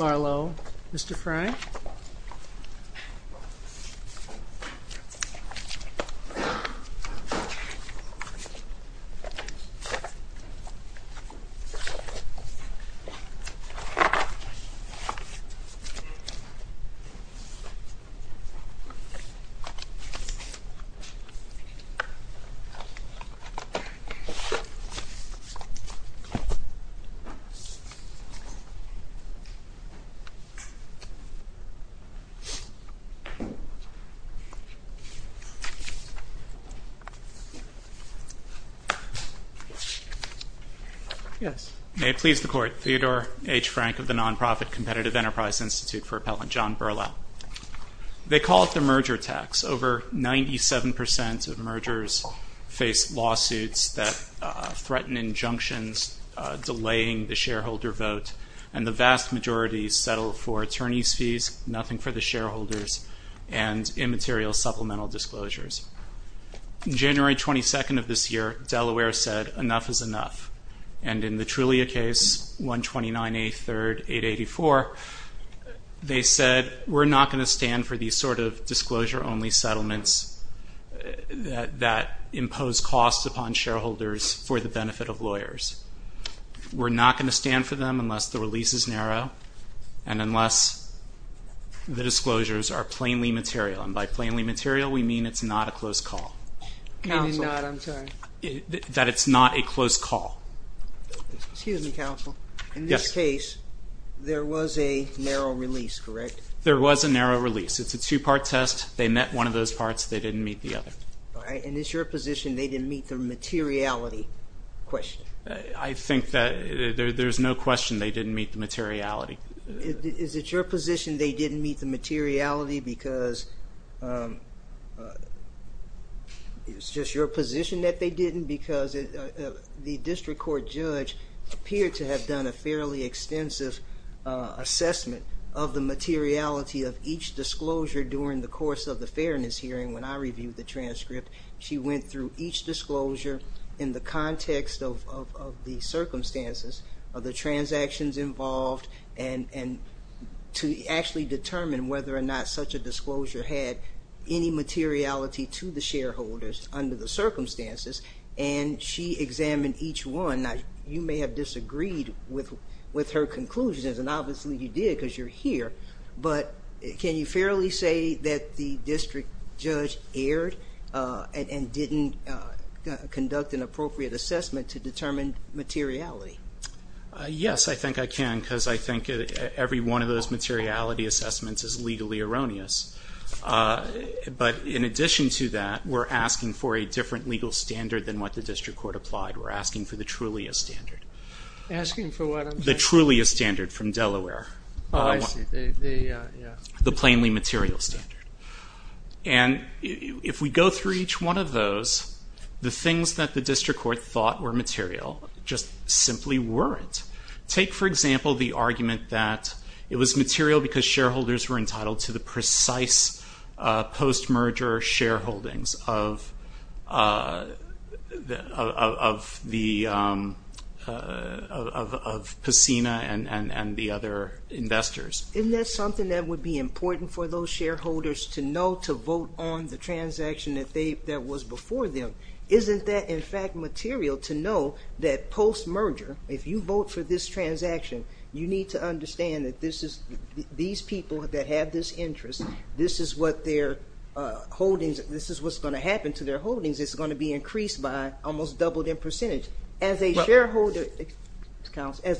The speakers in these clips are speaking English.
Mr. Fry May it please the Court, Theodore H. Frank of the non-profit Competitive Enterprise Institute for Appellant John Berlau. They call it the merger tax. Over 97% of mergers face lawsuits that threaten injunctions delaying the shareholder vote and the vast majority settle for attorney's fees, nothing for the shareholders and immaterial supplemental disclosures. On January 22nd of this year, Delaware said enough is enough and in the Trulia case 12983-884 they said we're not going to stand for these sort of disclosure only settlements that impose costs upon shareholders for the benefit of lawyers. We're not going to stand for them unless the release is narrow and unless the disclosures are plainly material and by plainly material we mean it's not a close call, that it's not a close call. Excuse me counsel, in this case there was a narrow release correct? There was a narrow release. It's a two part test. They met one of those parts. They didn't meet the other. And it's your position they didn't meet the materiality question? I think that there's no question they didn't meet the materiality. Is it your position they didn't meet the materiality because it's just your position that they didn't because the district court judge appeared to have done a fairly extensive assessment of the materiality of each disclosure during the course of the fairness hearing when I reviewed the transcript. She went through each disclosure in the context of the circumstances of the transactions involved and to actually determine whether or not such a disclosure had any materiality to the shareholders under the circumstances and she examined each one. You may have disagreed with her conclusions and obviously you did because you're here but can you fairly say that the district judge erred and didn't conduct an appropriate assessment to determine materiality? Yes, I think I can because I think every one of those materiality assessments is legally erroneous. But in addition to that, we're asking for a different legal standard than what the district court applied. We're asking for the truly a standard. Asking for what I'm saying? The truly a standard from Delaware. Oh, I see. Yeah. The plainly material standard. And if we go through each one of those, the things that the district court thought were material just simply weren't. Take for example the argument that it was material because shareholders were entitled to the precise post-merger shareholdings of Pacina and the other investors. Isn't that something that would be important for those shareholders to know to vote on the transaction that was before them? Isn't that in fact material to know that post-merger, if you vote for this transaction, you need to understand that these people that have this interest, this is what's going to happen to their holdings. It's going to be increased by almost double their percentage. As a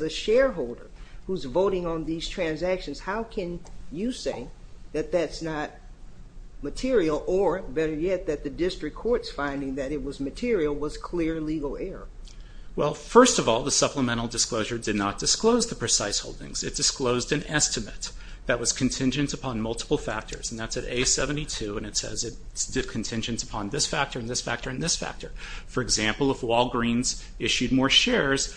shareholder who's voting on these transactions, how can you say that that's not material or better yet that the district court's finding that it was material was clear legal error? Well, first of all, the supplemental disclosure did not disclose the precise holdings. It disclosed an estimate that was contingent upon multiple factors. And that's at A72 and it says it's contingent upon this factor and this factor and this factor. For example, if Walgreens issued more shares,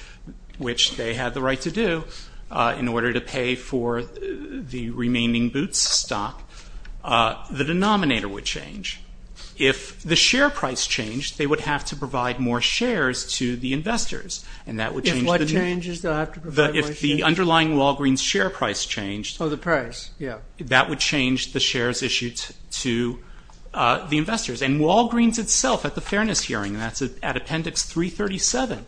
which they had the right to do in order to pay for the remaining Boots stock, the denominator would change. If the share price changed, they would have to provide more shares to the investors. And that would change the- If what changes? They'll have to provide more shares? If the underlying Walgreens share price changed- Oh, the price. Yeah. That would change the shares issued to the investors. And Walgreens itself at the fairness hearing, and that's at appendix 337,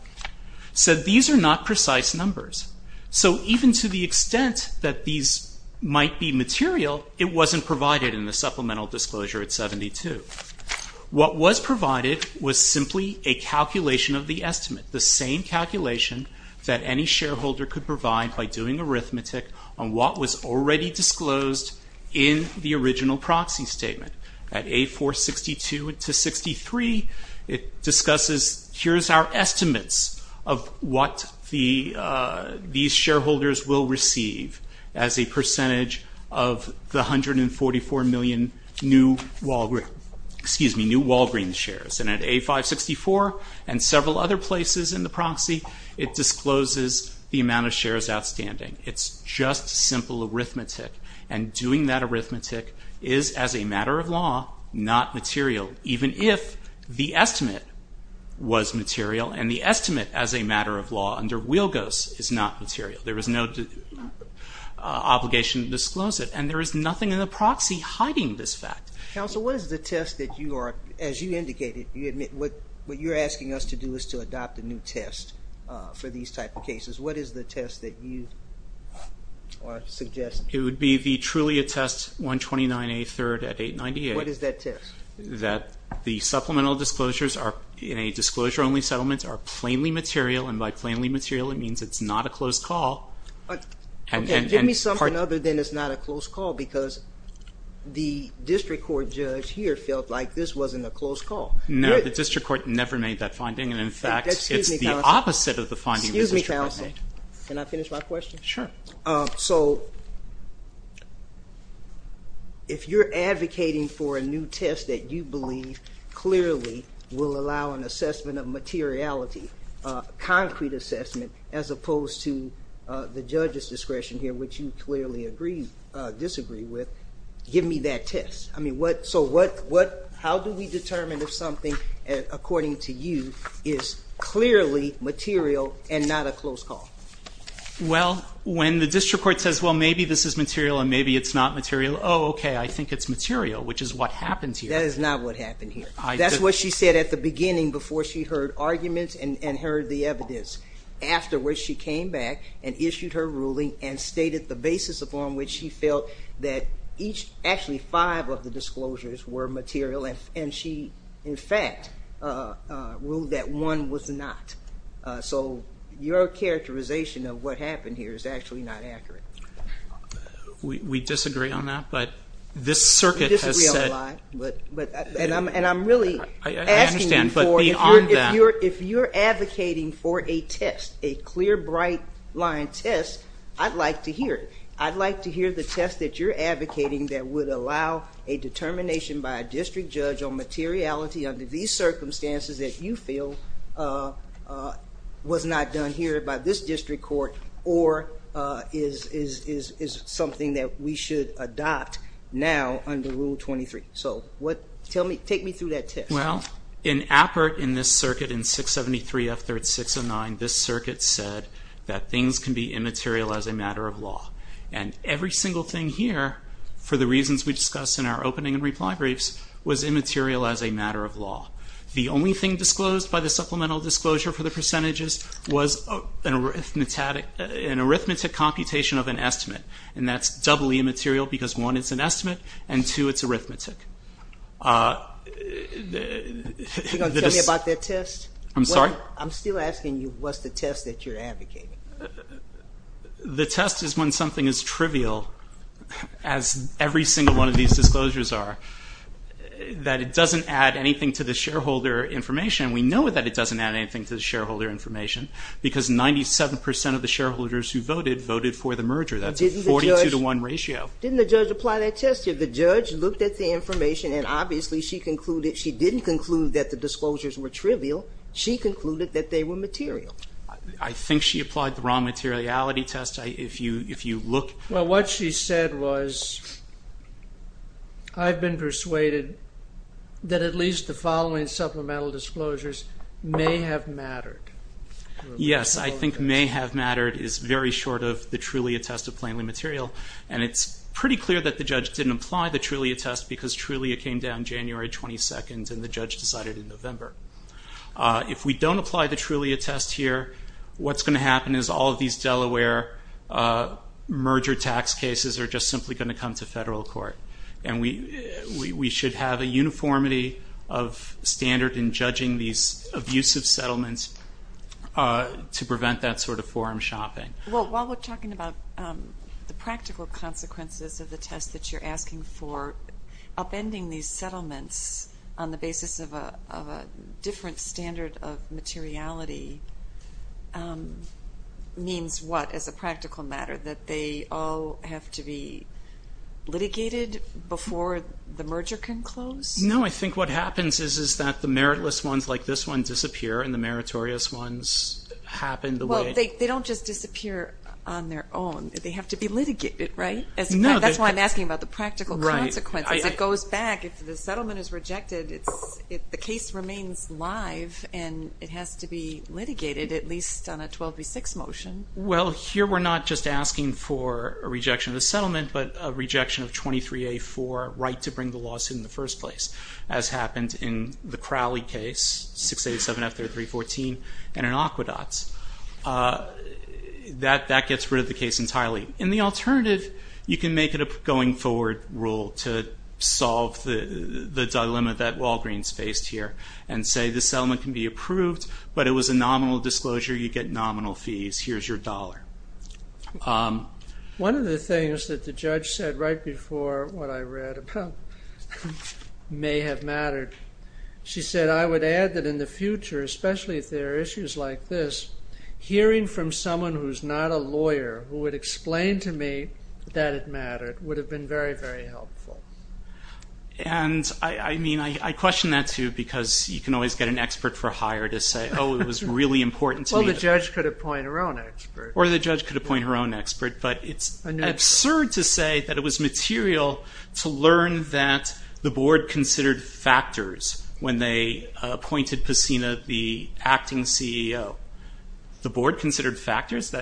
said these are not precise numbers. So even to the extent that these might be material, it wasn't provided in the supplemental disclosure at 72. What was provided was simply a calculation of the estimate, the same calculation that any shareholder could provide by doing arithmetic on what was already disclosed in the original proxy statement. At A462 to 63, it discusses, here's our estimates of what these shareholders will receive as a percentage of the 144 million new Walgreens shares. And at A564 and several other places in the proxy, it discloses the amount of shares outstanding. It's just simple arithmetic. And doing that arithmetic is, as a matter of law, not material. Even if the estimate was material and the estimate, as a matter of law, under Wheelgose is not material. There is no obligation to disclose it. And there is nothing in the proxy hiding this fact. Counsel, what is the test that you are, as you indicated, you admit, what you're asking us to do is to adopt a new test for these type of cases. What is the test that you are suggesting? It would be the Trulia test, 129A, third at 898. What is that test? That the supplemental disclosures are, in a disclosure only settlement, are plainly Give me something other than it's not a close call, because the district court judge here felt like this wasn't a close call. No, the district court never made that finding, and in fact, it's the opposite of the finding that the district court made. Excuse me, counsel. Can I finish my question? Sure. So, if you're advocating for a new test that you believe clearly will allow an assessment of materiality, a concrete assessment, as opposed to the judge's discretion here, which you clearly disagree with, give me that test. So how do we determine if something, according to you, is clearly material and not a close call? Well, when the district court says, well, maybe this is material and maybe it's not material, oh, okay, I think it's material, which is what happened here. That is not what happened here. That's what she said at the beginning before she heard arguments and heard the evidence. Afterwards, she came back and issued her ruling and stated the basis upon which she felt that each, actually five of the disclosures were material, and she, in fact, ruled that one was not. So your characterization of what happened here is actually not accurate. We disagree on that, but this circuit has said... And I'm really asking you for, if you're advocating for a test, a clear, bright line test, I'd like to hear it. I'd like to hear the test that you're advocating that would allow a determination by a district judge on materiality under these circumstances that you feel was not done here by this district court or is something that we should adopt now under Rule 23. So take me through that test. Well, in Appert, in this circuit, in 673 F3-609, this circuit said that things can be immaterial as a matter of law, and every single thing here, for the reasons we discussed in our opening and reply briefs, was immaterial as a matter of law. The only thing disclosed by the supplemental disclosure for the percentages was an arithmetic computation of an estimate, and that's doubly immaterial because, one, it's an estimate, and, two, it's arithmetic. Are you going to tell me about that test? I'm sorry? I'm still asking you what's the test that you're advocating. The test is when something is trivial, as every single one of these disclosures are, that it doesn't add anything to the shareholder information. We know that it doesn't add anything to the shareholder information because 97 percent of the shareholders who voted voted for the merger. That's a 42 to 1 ratio. Didn't the judge apply that test? The judge looked at the information and, obviously, she didn't conclude that the disclosures were trivial. She concluded that they were material. I think she applied the wrong materiality test. If you look... Well, what she said was, I've been persuaded that at least the following supplemental disclosures may have mattered. Yes, I think may have mattered is very short of the truly attested plainly material, and it's pretty clear that the judge didn't apply the truly attest because truly it came down January 22nd and the judge decided in November. If we don't apply the truly attest here, what's going to happen is all of these Delaware merger tax cases are just simply going to come to federal court, and we should have a uniformity of standard in judging these abusive settlements to prevent that sort of forum shopping. While we're talking about the practical consequences of the test that you're asking for, upending these settlements on the basis of a different standard of materiality means what as a practical matter, that they all have to be litigated before the merger can close? No, I think what happens is that the meritless ones like this one disappear and the meritorious ones happen the way... They don't just disappear on their own, they have to be litigated, right? That's why I'm asking about the practical consequences, it goes back, if the settlement is rejected, the case remains live and it has to be litigated at least on a 12B6 motion. Well here we're not just asking for a rejection of the settlement, but a rejection of 23A4, right to bring the lawsuit in the first place, as happened in the Crowley case, 687-F3314 and in Aquedot. That gets rid of the case entirely. In the alternative, you can make it a going forward rule to solve the dilemma that Walgreens faced here and say the settlement can be approved, but it was a nominal disclosure, you get nominal fees, here's your dollar. One of the things that the judge said right before what I read about may have mattered, she said, I would add that in the future, especially if there are issues like this, hearing from someone who's not a lawyer who would explain to me that it mattered would have been very, very helpful. And I question that too because you can always get an expert for hire to say, oh it was really important to me. Well the judge could appoint her own expert. Or the judge could appoint her own expert, but it's absurd to say that it was material to learn that the board considered factors when they appointed Pacina the acting CEO. The board considered factors?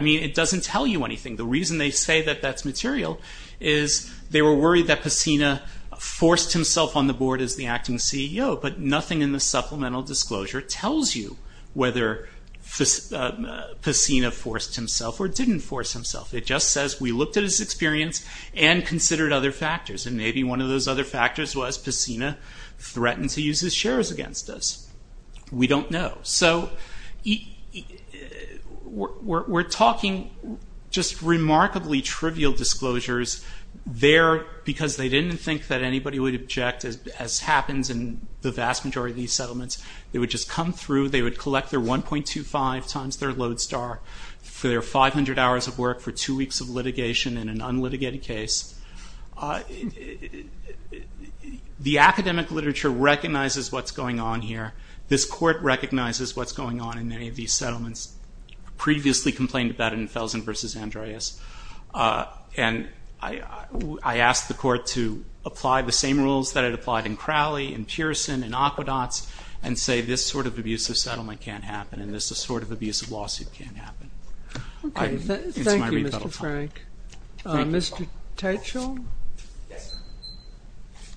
It doesn't tell you anything. The reason they say that that's material is they were worried that Pacina forced himself on the board as the acting CEO, but nothing in the supplemental disclosure tells you whether Pacina forced himself or didn't force himself. It just says we looked at his experience and considered other factors, and maybe one of those other factors was Pacina threatened to use his shares against us. We don't know. So we're talking just remarkably trivial disclosures there because they didn't think that anybody would object as happens in the vast majority of these settlements. They would just come through, they would collect their 1.25 times their load star for their 100 hours of work for two weeks of litigation in an unlitigated case. The academic literature recognizes what's going on here. This court recognizes what's going on in any of these settlements. Previously complained about it in Felsen v. Andreas, and I asked the court to apply the same rules that it applied in Crowley, in Pearson, in Aquedots, and say this sort of abusive settlement can't happen, and this sort of abusive lawsuit can't happen. Okay, thank you, Mr. Frank. Mr. Teicholm? Yes, sir.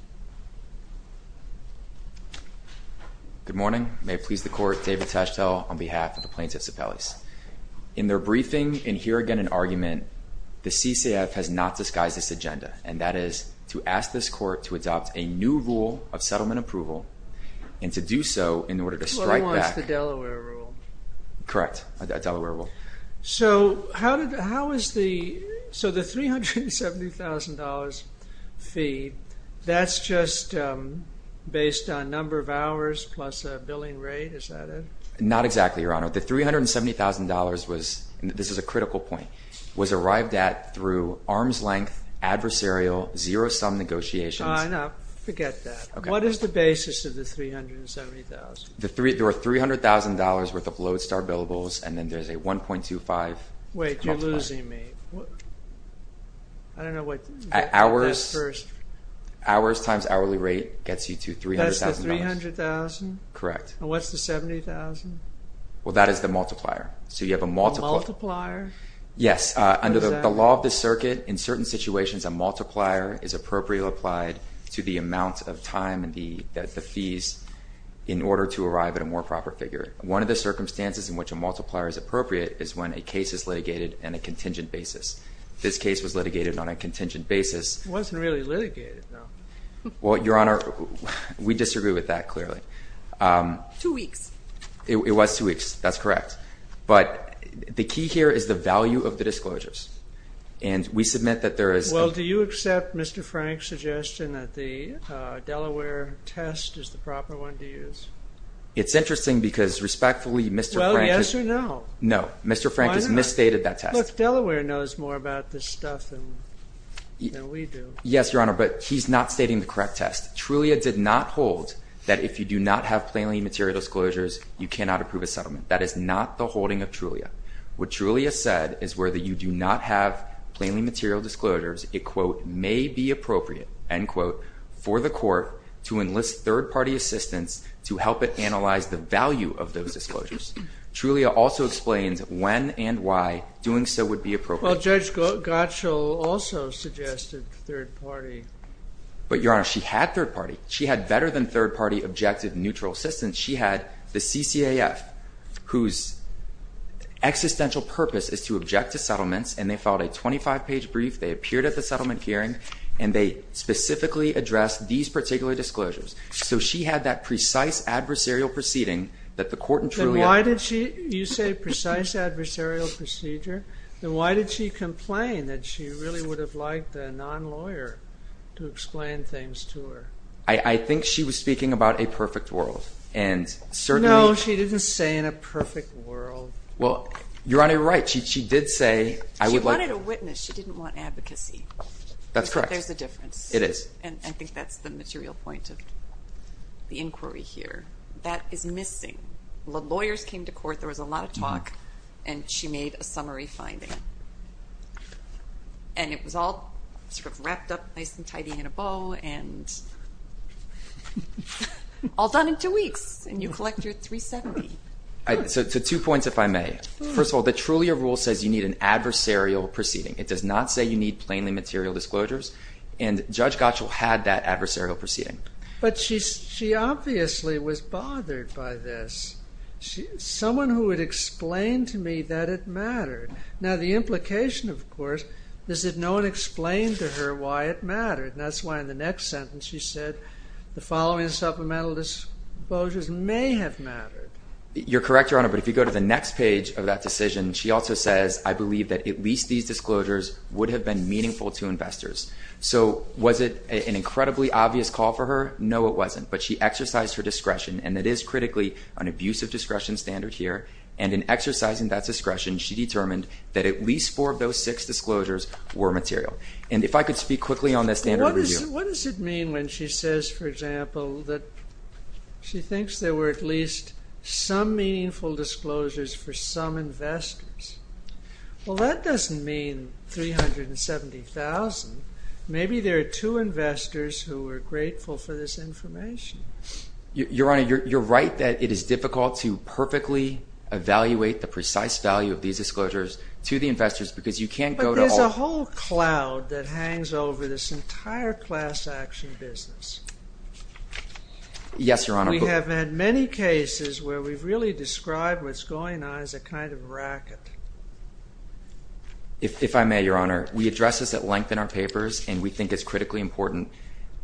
Good morning. May it please the court, David Teicholm on behalf of the Plaintiffs Appellees. In their briefing, and here again in argument, the CCAF has not disguised this agenda, and that is to ask this court to adopt a new rule of settlement approval, and to do so in order to strike back- What was the Delaware rule? Correct, a Delaware rule. So how is the, so the $370,000 fee, that's just based on number of hours plus a billing rate, is that it? Not exactly, Your Honor. The $370,000 was, and this is a critical point, was arrived at through arm's length adversarial zero-sum negotiations- Ah, no, forget that. What is the basis of the $370,000? The three, there were $300,000 worth of Lodestar billables, and then there's a 1.25- Wait, you're losing me. I don't know what- Hours- That first- Hours times hourly rate gets you to $300,000. That's the $300,000? Correct. And what's the $70,000? Well, that is the multiplier. So you have a multiple- A multiplier? Yes. What is that? Under the law of the circuit, in certain situations, a multiplier is appropriately applied to the to arrive at a more proper figure. One of the circumstances in which a multiplier is appropriate is when a case is litigated on a contingent basis. This case was litigated on a contingent basis- It wasn't really litigated, though. Well, Your Honor, we disagree with that, clearly. Two weeks. It was two weeks, that's correct. But the key here is the value of the disclosures, and we submit that there is- Well, do you accept Mr. Frank's suggestion that the Delaware test is the proper one to use? It's interesting because, respectfully, Mr. Frank- Well, yes or no? No. Why not? Mr. Frank has misstated that test. Look, Delaware knows more about this stuff than we do. Yes, Your Honor, but he's not stating the correct test. Trulia did not hold that if you do not have plainly material disclosures, you cannot approve a settlement. That is not the holding of Trulia. What Trulia said is whether you do not have plainly material disclosures, it, quote, may be appropriate, end quote, for the court to enlist third-party assistance to help it analyze the value of those disclosures. Trulia also explains when and why doing so would be appropriate. Well, Judge Gottschall also suggested third-party. But Your Honor, she had third-party. She had better than third-party objective neutral assistance. She had the CCAF, whose existential purpose is to object to settlements, and they filed a 25-page brief, they appeared at the settlement hearing, and they specifically addressed these particular disclosures. So she had that precise adversarial proceeding that the court and Trulia- Then why did she- you say precise adversarial procedure? Then why did she complain that she really would have liked a non-lawyer to explain things to her? I think she was speaking about a perfect world. And certainly- No, she didn't say in a perfect world. Well, Your Honor, you're right. She did say- She wanted a witness. She didn't want advocacy. That's correct. But there's a difference. It is. And I think that's the material point of the inquiry here. That is missing. Lawyers came to court. There was a lot of talk, and she made a summary finding. And it was all sort of wrapped up nice and tidy in a bow, and all done in two weeks. And you collect your $370. So two points, if I may. First of all, the Trulia rule says you need an adversarial proceeding. It does not say you need plainly material disclosures. And Judge Gottschall had that adversarial proceeding. But she obviously was bothered by this. Someone who had explained to me that it mattered. Now, the implication, of course, is that no one explained to her why it mattered. And that's why in the next sentence she said, the following supplemental disclosures may have mattered. You're correct, Your Honor. But if you go to the next page of that decision, she also says, I believe that at least these disclosures would have been meaningful to investors. So was it an incredibly obvious call for her? No, it wasn't. But she exercised her discretion, and it is critically an abusive discretion standard here. And in exercising that discretion, she determined that at least four of those six disclosures were material. And if I could speak quickly on that standard review. What does it mean when she says, for example, that she thinks there were at least some meaningful disclosures for some investors? Well, that doesn't mean 370,000. Maybe there are two investors who are grateful for this information. Your Honor, you're right that it is difficult to perfectly evaluate the precise value of these disclosures to the investors because you can't go to all of them. But there's a whole cloud that hangs over this entire class action business. Yes, Your Honor. We have had many cases where we've really described what's going on as a kind of racket. If I may, Your Honor, we address this at length in our papers, and we think it's critically important.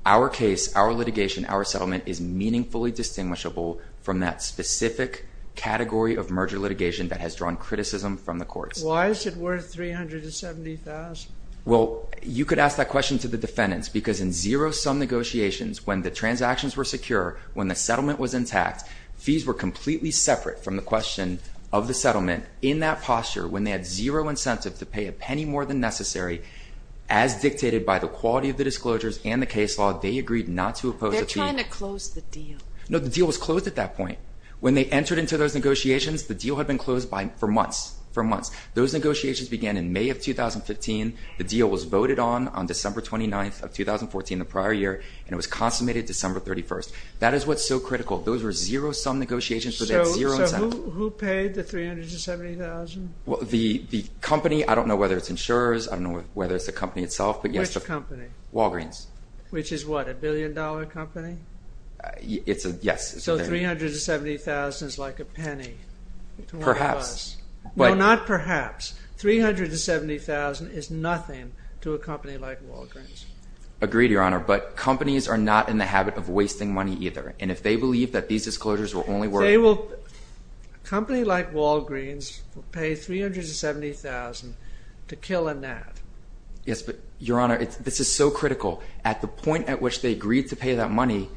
Our case, our litigation, our settlement is meaningfully distinguishable from that specific category of merger litigation that has drawn criticism from the courts. Why is it worth 370,000? Well, you could ask that question to the defendants because in zero-sum negotiations, when the transactions were secure, when the settlement was intact, fees were completely separate from the question of the settlement in that posture when they had zero incentive to pay a penny more than necessary, as dictated by the quality of the disclosures and the case law, they agreed not to oppose the fee. They're trying to close the deal. No, the deal was closed at that point. When they entered into those negotiations, the deal had been closed for months, for months. Those negotiations began in May of 2015. The deal was voted on on December 29th of 2014, the prior year, and it was consummated December 31st. That is what's so critical. Those were zero-sum negotiations, so they had zero incentive. So who paid the 370,000? Well, the company, I don't know whether it's insurers, I don't know whether it's the company itself. Which company? Walgreens. Which is what, a billion-dollar company? Yes. So 370,000 is like a penny to one of us. Perhaps. No, not perhaps. 370,000 is nothing to a company like Walgreens. Agreed, Your Honor, but companies are not in the habit of wasting money either, and if they believe that these disclosures will only work… A company like Walgreens will pay 370,000 to kill a gnat. Yes, but, Your Honor, this is so critical. At the point at which they agreed to pay that money,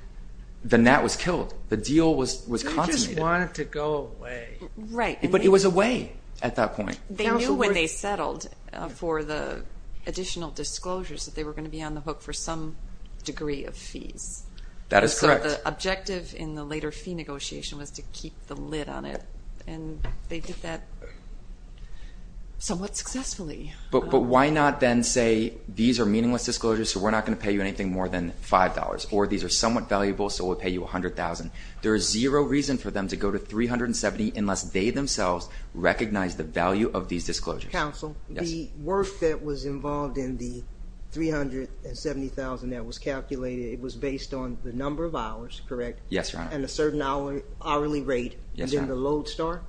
the gnat was killed. The deal was consummated. They just wanted to go away. Right. But it was a way at that point. They knew when they settled for the additional disclosures that they were going to be on the hook for some degree of fees. That is correct. The objective in the later fee negotiation was to keep the lid on it, and they did that somewhat successfully. But why not then say these are meaningless disclosures, so we're not going to pay you anything more than $5, or these are somewhat valuable, so we'll pay you $100,000? There is zero reason for them to go to 370,000 unless they themselves recognize the value of these disclosures. Counsel, the work that was involved in the 370,000 that was calculated, it was based on the number of hours, correct? Yes, Your Honor. And a certain hourly rate. Yes, Your Honor. And then the load start.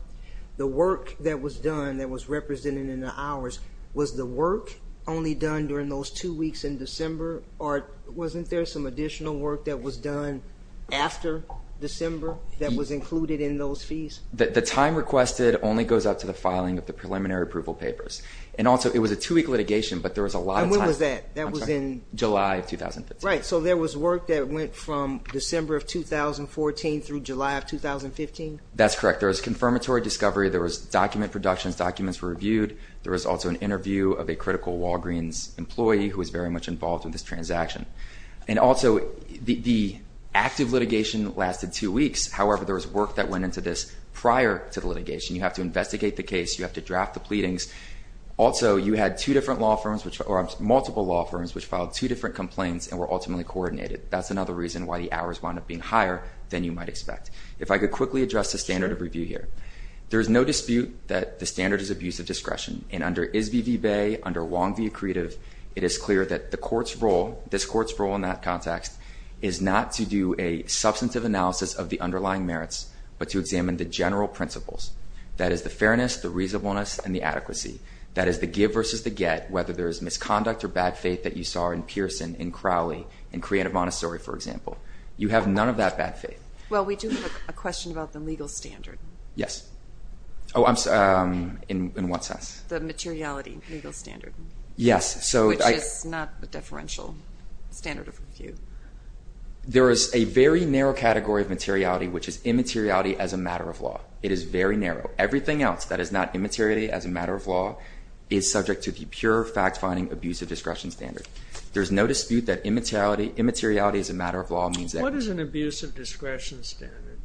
The work that was done that was represented in the hours, was the work only done during those two weeks in December, or wasn't there some additional work that was done after December that was included in those fees? The time requested only goes up to the filing of the preliminary approval papers. And also, it was a two-week litigation, but there was a lot of time. And when was that? I'm sorry. In July of 2015. Right. So there was work that went from December of 2014 through July of 2015? That's correct. There was confirmatory discovery. There was document production. Documents were reviewed. There was also an interview of a critical Walgreens employee who was very much involved in this transaction. And also, the active litigation lasted two weeks. However, there was work that went into this prior to the litigation. You have to investigate the case. You have to draft the pleadings. Also, you had multiple law firms which filed two different complaints and were ultimately coordinated. That's another reason why the hours wound up being higher than you might expect. If I could quickly address the standard of review here. There is no dispute that the standard is abuse of discretion. And under ISBV-BAE, under Wong v. Accretive, it is clear that this Court's role in that context is not to do a substantive analysis of the underlying merits, but to examine the general principles. That is the fairness, the reasonableness, and the adequacy. That is the give versus the get, whether there is misconduct or bad faith that you saw in Pearson, in Crowley, in Creative Montessori, for example. You have none of that bad faith. Well, we do have a question about the legal standard. Yes. Oh, I'm sorry. In what sense? The materiality legal standard. Yes. Which is not the deferential standard of review. There is a very narrow category of materiality, which is immateriality as a matter of law. It is very narrow. Everything else that is not immateriality as a matter of law is subject to the pure fact-finding abuse of discretion standard. There is no dispute that immateriality as a matter of law means that. What is an abuse of discretion standard?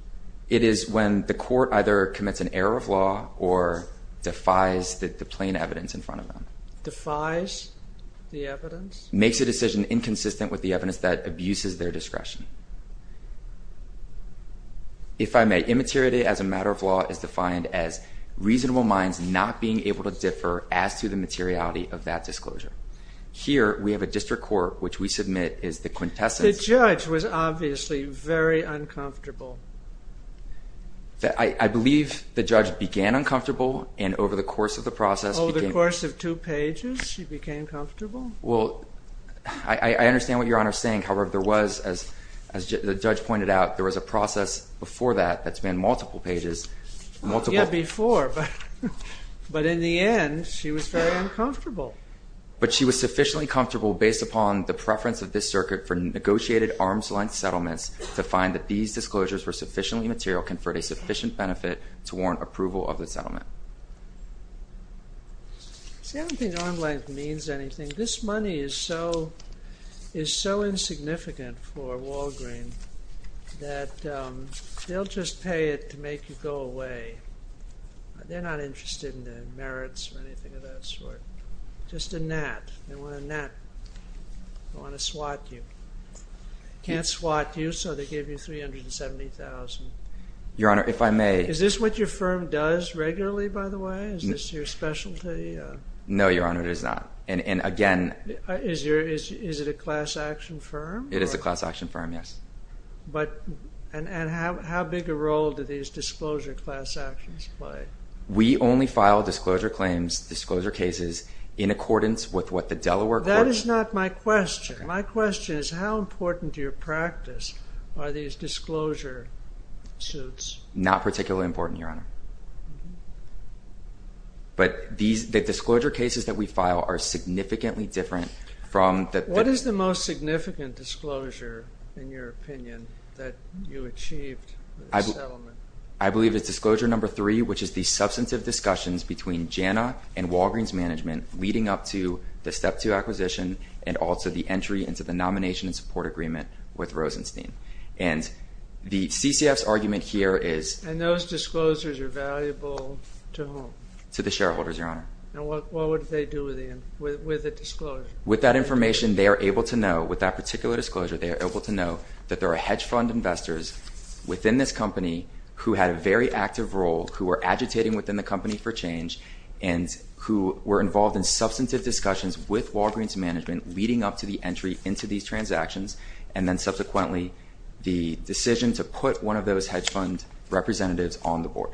It is when the Court either commits an error of law or defies the plain evidence in front of them. Defies the evidence? Makes a decision inconsistent with the evidence that abuses their discretion. If I may, immateriality as a matter of law is defined as reasonable minds not being able to differ as to the materiality of that disclosure. Here, we have a district court, which we submit is the quintessence. The judge was obviously very uncomfortable. I believe the judge began uncomfortable, and over the course of the process. Over the course of two pages, she became comfortable? Well, I understand what Your Honor is saying. However, there was, as the judge pointed out, there was a process before that that has been multiple pages. Yeah, before. But in the end, she was very uncomfortable. But she was sufficiently comfortable based upon the preference of this circuit for negotiated arm's-length settlements to find that these disclosures were sufficiently material to confer a sufficient benefit to warrant approval of the settlement. See, I don't think arm's-length means anything. This money is so insignificant for Walgreen that they'll just pay it to make you go away. They're not interested in the merits or anything of that sort. Just a gnat. They want a gnat. They want to swat you. Can't swat you, so they give you $370,000. Your Honor, if I may. Is this what your firm does regularly, by the way? Is this your specialty? No, Your Honor, it is not. And again... Is it a class action firm? It is a class action firm, yes. And how big a role do these disclosure class actions play? We only file disclosure claims, disclosure cases, in accordance with what the Delaware Court... That is not my question. My question is how important to your practice are these disclosure suits? Not particularly important, Your Honor. But the disclosure cases that we file are significantly different from... What is the most significant disclosure, in your opinion, that you achieved with the settlement? I believe it's disclosure number three, which is the substantive discussions between JANA and Walgreen's management leading up to the Step 2 acquisition and also the entry into the nomination and support agreement with Rosenstein. And the CCF's argument here is... And those disclosures are valuable to whom? To the shareholders, Your Honor. And what would they do with the disclosure? With that information, they are able to know, with that particular disclosure, they are able to know that there are hedge fund investors within this company who had a very active role, who were agitating within the company for change, and who were involved in substantive discussions with Walgreen's management leading up to the entry into these transactions, and then subsequently the decision to put one of those hedge fund representatives on the board.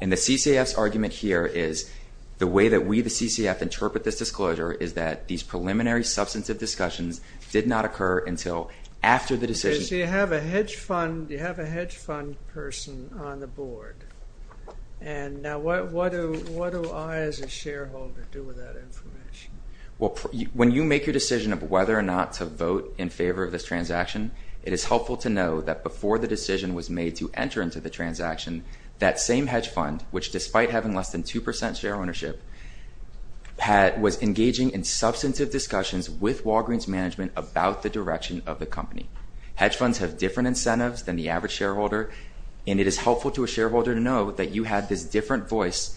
And the CCF's argument here is the way that we, the CCF, interpret this disclosure is that these preliminary substantive discussions did not occur until after the decision... Because you have a hedge fund person on the board. And now what do I, as a shareholder, do with that information? When you make your decision of whether or not to vote in favor of this transaction, it is helpful to know that before the decision was made to enter into the transaction, that same hedge fund, which despite having less than 2% share ownership, was engaging in substantive discussions with Walgreen's management about the direction of the company. Hedge funds have different incentives than the average shareholder, and it is helpful to a shareholder to know that you had this different voice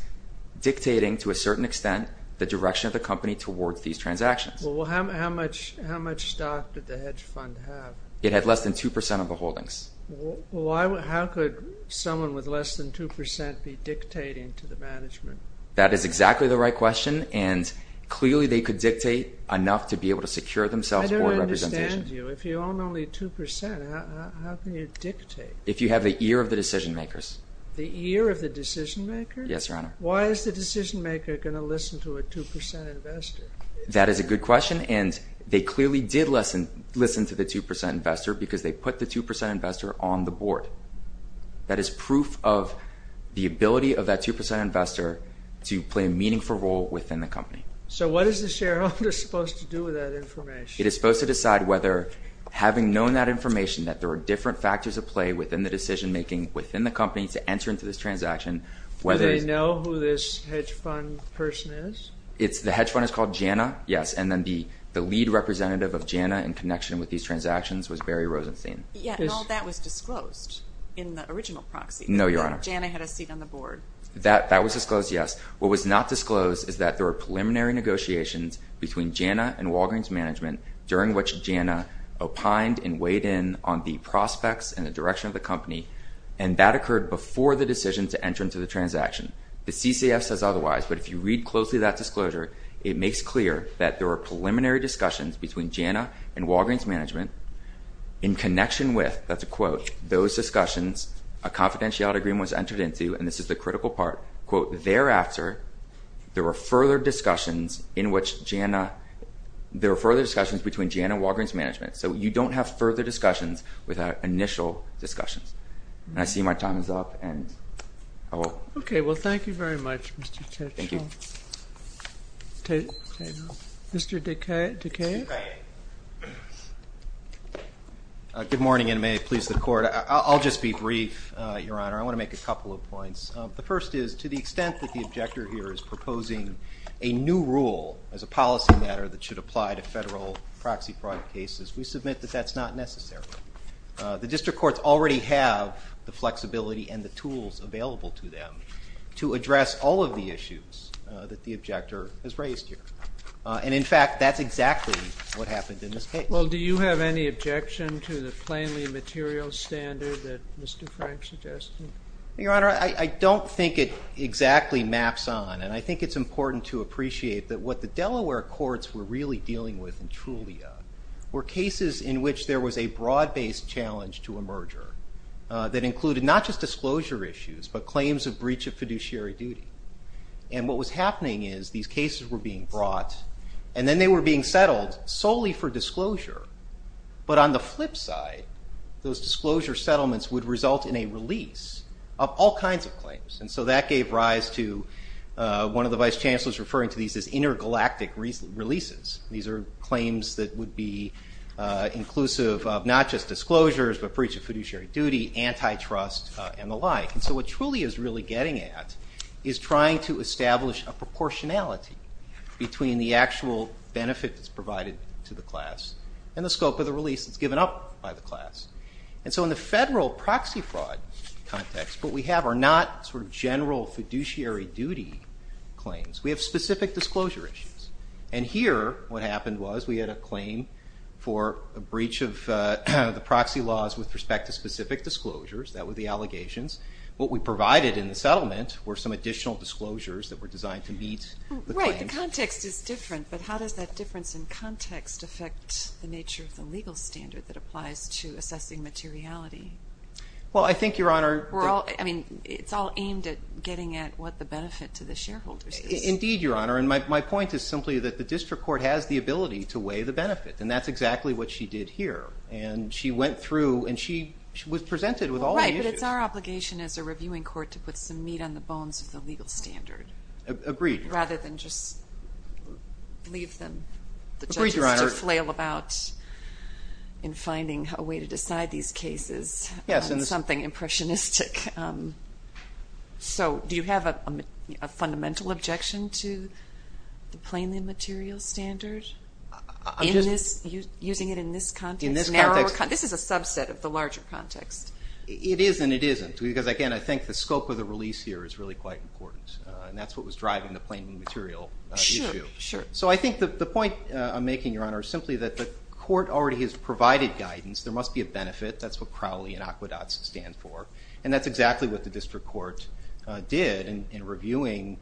dictating, to a certain extent, the direction of the company towards these transactions. Well, how much stock did the hedge fund have? It had less than 2% of the holdings. Well, how could someone with less than 2% be dictating to the management? That is exactly the right question, and clearly they could dictate enough to be able to secure themselves board representation. I don't understand you. If you own only 2%, how can you dictate? If you have the ear of the decision makers. The ear of the decision makers? Yes, Your Honor. Why is the decision maker going to listen to a 2% investor? That is a good question, and they clearly did listen to the 2% investor because they put the 2% investor on the board. That is proof of the ability of that 2% investor to play a meaningful role within the company. So what is the shareholder supposed to do with that information? It is supposed to decide whether, having known that information, that there are different factors at play within the decision making within the company to enter into this transaction. Do they know who this hedge fund person is? The hedge fund is called JANA, yes, and then the lead representative of JANA in connection with these transactions was Barry Rosenstein. All that was disclosed in the original proxy. No, Your Honor. JANA had a seat on the board. That was disclosed, yes. What was not disclosed is that there were preliminary negotiations between JANA and Walgreens Management, during which JANA opined and weighed in on the prospects and the direction of the company, and that occurred before the decision to enter into the transaction. The CCF says otherwise, but if you read closely that disclosure, it makes clear that there were preliminary discussions between JANA and Walgreens Management in connection with, that's a quote, those discussions a confidentiality agreement was entered into, and this is the critical part, quote, thereafter there were further discussions in which JANA, there were further discussions between JANA and Walgreens Management. So you don't have further discussions without initial discussions. And I see my time is up, and I will. Okay. Well, thank you very much, Mr. Ketchum. Thank you. Mr. Dekay. Mr. Dekay. Good morning, and may it please the Court. I'll just be brief, Your Honor. I want to make a couple of points. The first is to the extent that the objector here is proposing a new rule as a policy matter that should apply to federal proxy fraud cases, we submit that that's not necessary. The district courts already have the flexibility and the tools available to them to address all of the issues that the objector has raised here. And, in fact, that's exactly what happened in this case. Well, do you have any objection to the plainly material standard that Mr. Frank suggested? Your Honor, I don't think it exactly maps on, and I think it's important to appreciate that what the Delaware courts were really dealing with in Trulia were cases in which there was a broad-based challenge to a merger that included not just disclosure issues but claims of breach of fiduciary duty. And what was happening is these cases were being brought, and then they were being settled solely for disclosure. But on the flip side, those disclosure settlements would result in a release of all kinds of claims. And so that gave rise to one of the vice chancellors referring to these as intergalactic releases. These are claims that would be inclusive of not just disclosures but breach of fiduciary duty, antitrust, and the like. And so what Trulia is really getting at is trying to establish a proportionality between the actual benefit that's provided to the class and the scope of the release that's given up by the class. And so in the federal proxy fraud context, what we have are not sort of general fiduciary duty claims. We have specific disclosure issues. And here what happened was we had a claim for a breach of the proxy laws with respect to specific disclosures. That were the allegations. What we provided in the settlement were some additional disclosures that were designed to meet the claims. Right, the context is different, but how does that difference in context affect the nature of the legal standard that applies to assessing materiality? Well, I think, Your Honor. I mean, it's all aimed at getting at what the benefit to the shareholders is. Indeed, Your Honor. And my point is simply that the district court has the ability to weigh the benefit. And that's exactly what she did here. And she went through and she was presented with all the issues. Right, but it's our obligation as a reviewing court to put some meat on the bones of the legal standard. Agreed. Rather than just leave them. Agreed, Your Honor. The judges to flail about in finding a way to decide these cases. Yes. On something impressionistic. So do you have a fundamental objection to the plainly material standard? Using it in this context? In this context. This is a subset of the larger context. It is and it isn't. Because, again, I think the scope of the release here is really quite important. And that's what was driving the plainly material issue. Sure, sure. So I think the point I'm making, Your Honor, is simply that the court already has provided guidance. There must be a benefit. That's what Crowley and Aqueducts stand for. And that's exactly what the district court did in reviewing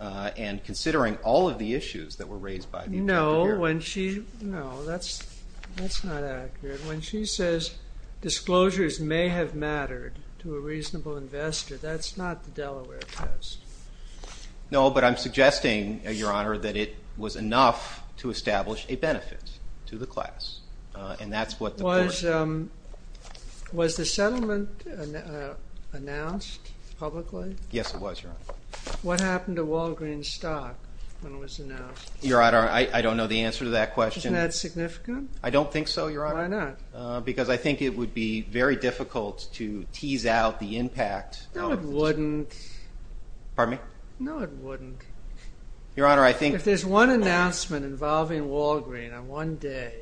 and considering all of the issues that were raised by the district court. No, that's not accurate. When she says disclosures may have mattered to a reasonable investor, that's not the Delaware Post. No, but I'm suggesting, Your Honor, that it was enough to establish a benefit to the class. And that's what the court did. Was the settlement announced publicly? Yes, it was, Your Honor. What happened to Walgreen's stock when it was announced? Your Honor, I don't know the answer to that question. Isn't that significant? I don't think so, Your Honor. Why not? Because I think it would be very difficult to tease out the impact. No, it wouldn't. Pardon me? No, it wouldn't. Your Honor, I think— If there's one announcement involving Walgreen on one day,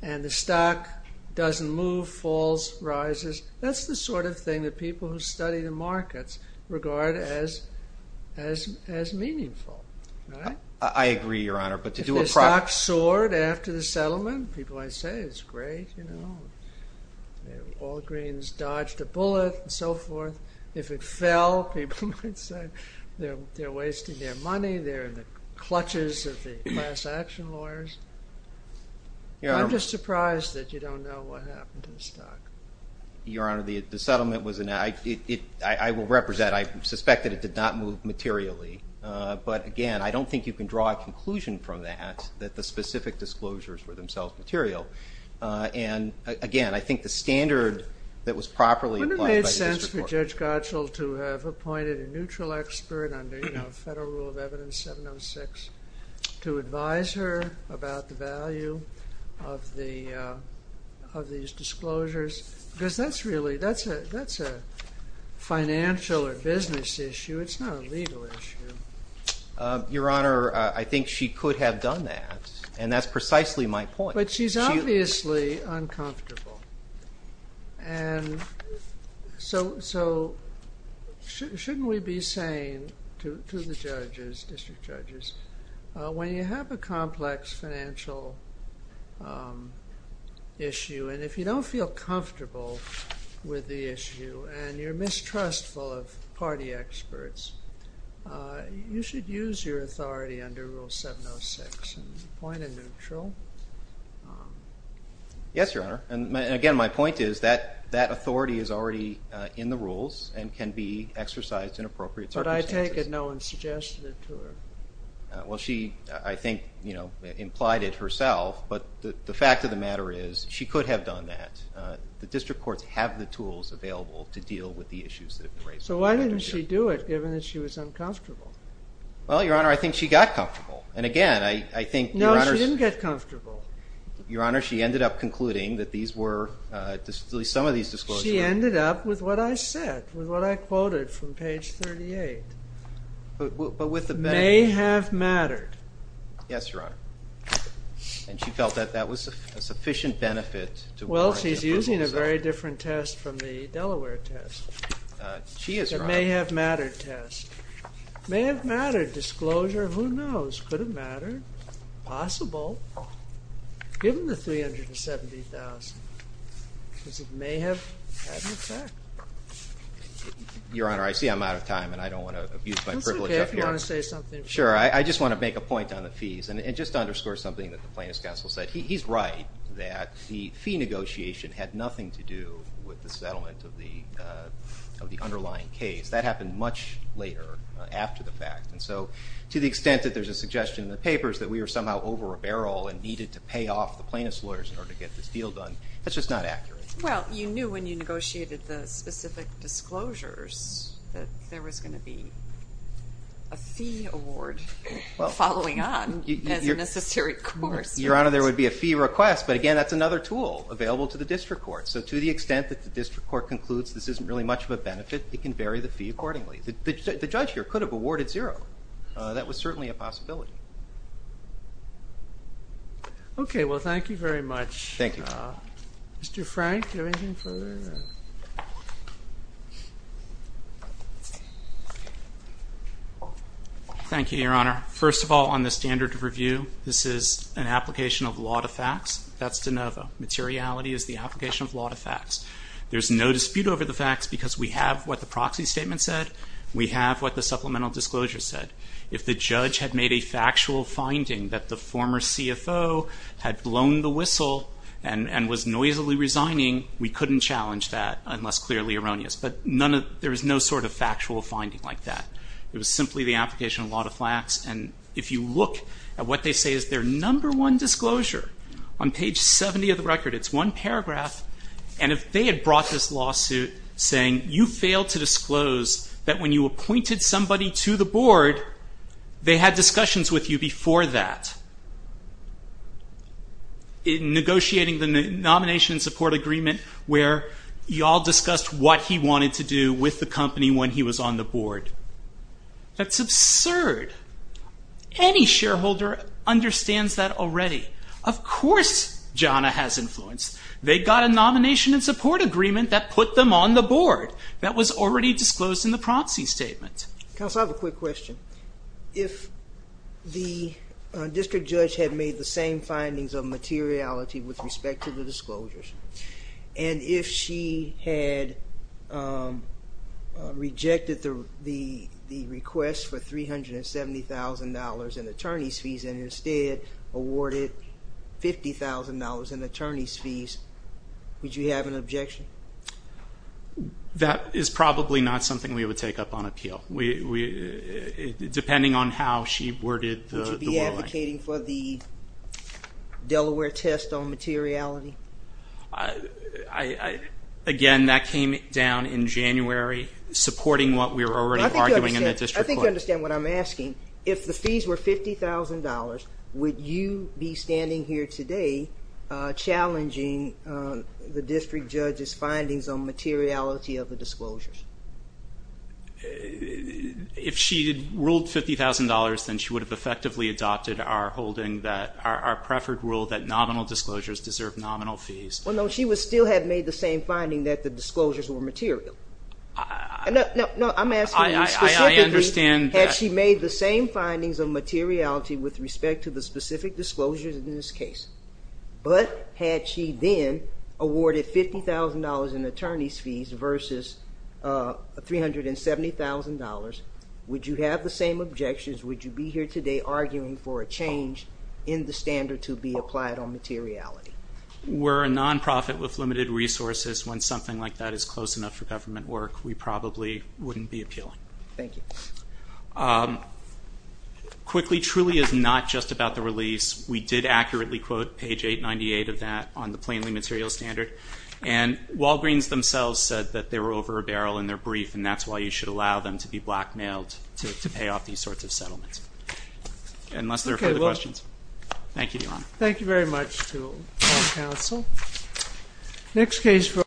and the stock doesn't move, falls, rises, that's the sort of thing that people who study the markets regard as meaningful. I agree, Your Honor, but to do a— If the stock soared after the settlement, people might say it's great, you know. Walgreen's dodged a bullet and so forth. If it fell, people might say they're wasting their money, they're in the clutches of the class action lawyers. I'm just surprised that you don't know what happened to the stock. Your Honor, the settlement was— I will represent, I suspect that it did not move materially. But again, I don't think you can draw a conclusion from that, that the specific disclosures were themselves material. And again, I think the standard that was properly— Wouldn't it make sense for Judge Gottschall to have appointed a neutral expert under Federal Rule of Evidence 706 to advise her about the value of these disclosures? Because that's really—that's a financial or business issue. It's not a legal issue. Your Honor, I think she could have done that, and that's precisely my point. But she's obviously uncomfortable. And so, shouldn't we be saying to the judges, district judges, when you have a complex financial issue and if you don't feel comfortable with the issue and you're mistrustful of party experts, you should use your authority under Rule 706 and appoint a neutral? Yes, Your Honor. And again, my point is that that authority is already in the rules and can be exercised in appropriate circumstances. But I take it no one suggested it to her. Well, she, I think, you know, implied it herself. But the fact of the matter is she could have done that. The district courts have the tools available to deal with the issues that have been raised. So why didn't she do it, given that she was uncomfortable? Well, Your Honor, I think she got comfortable. And again, I think Your Honor's... No, she didn't get comfortable. Your Honor, she ended up concluding that these were, at least some of these disclosures... She ended up with what I said, with what I quoted from page 38. But with the benefit... May have mattered. Yes, Your Honor. And she felt that that was a sufficient benefit to... Well, she's using a very different test from the Delaware test. She is, Your Honor. The may have mattered test. May have mattered disclosure. Who knows? Could have mattered. Possible. Given the $370,000. Because it may have had an effect. Your Honor, I see I'm out of time, and I don't want to abuse my privilege up here. It's okay if you want to say something. Sure, I just want to make a point on the fees. And just to underscore something that the plaintiff's counsel said, he's right that the fee negotiation had nothing to do with the settlement of the underlying case. That happened much later, after the fact. And so to the extent that there's a suggestion in the papers that we were somehow over a barrel and needed to pay off the plaintiff's lawyers in order to get this deal done, that's just not accurate. Well, you knew when you negotiated the specific disclosures that there was going to be a fee award following on as a necessary course. Your Honor, there would be a fee request, but again, that's another tool available to the district court. So to the extent that the district court concludes this isn't really much of a benefit, it can vary the fee accordingly. The judge here could have awarded zero. That was certainly a possibility. Okay, well, thank you very much. Thank you. Mr. Frank, do you have anything further? Thank you, Your Honor. First of all, on the standard of review, this is an application of law to facts. That's de novo. Materiality is the application of law to facts. There's no dispute over the facts because we have what the proxy statement said. We have what the supplemental disclosure said. If the judge had made a factual finding that the former CFO had blown the whistle and was noisily resigning, we couldn't challenge that unless clearly erroneous. But there is no sort of factual finding like that. It was simply the application of law to facts. And if you look at what they say is their number one disclosure, on page 70 of the record, it's one paragraph. And if they had brought this lawsuit saying, you failed to disclose that when you appointed somebody to the board, they had discussions with you before that, in negotiating the nomination and support agreement where you all discussed what he wanted to do with the company when he was on the board. That's absurd. Any shareholder understands that already. Of course, JANA has influence. They got a nomination and support agreement that put them on the board. That was already disclosed in the proxy statement. Counsel, I have a quick question. If the district judge had made the same findings of materiality with respect to the disclosures, and if she had rejected the request for $370,000 in attorney's fees and instead awarded $50,000 in attorney's fees, would you have an objection? That is probably not something we would take up on appeal, depending on how she worded the wording. Would you be advocating for the Delaware test on materiality? Again, that came down in January, supporting what we were already arguing in the district court. I think you understand what I'm asking. If the fees were $50,000, would you be standing here today challenging the district judge's findings on materiality of the disclosures? If she had ruled $50,000, then she would have effectively adopted our preferred rule that nominal disclosures deserve nominal fees. Well, no, she would still have made the same finding that the disclosures were material. No, I'm asking specifically had she made the same findings of materiality with respect to the specific disclosures in this case, but had she then awarded $50,000 in attorney's fees versus $370,000, would you have the same objections? Would you be here today arguing for a change in the standard to be applied on materiality? We're a nonprofit with limited resources. When something like that is close enough for government work, we probably wouldn't be appealing. Thank you. Quickly, Trulia is not just about the release. We did accurately quote page 898 of that on the plainly material standard, and Walgreens themselves said that they were over a barrel in their brief, and that's why you should allow them to be blackmailed to pay off these sorts of settlements, unless there are further questions. Thank you, Your Honor. Thank you very much to all counsel. Next case, please.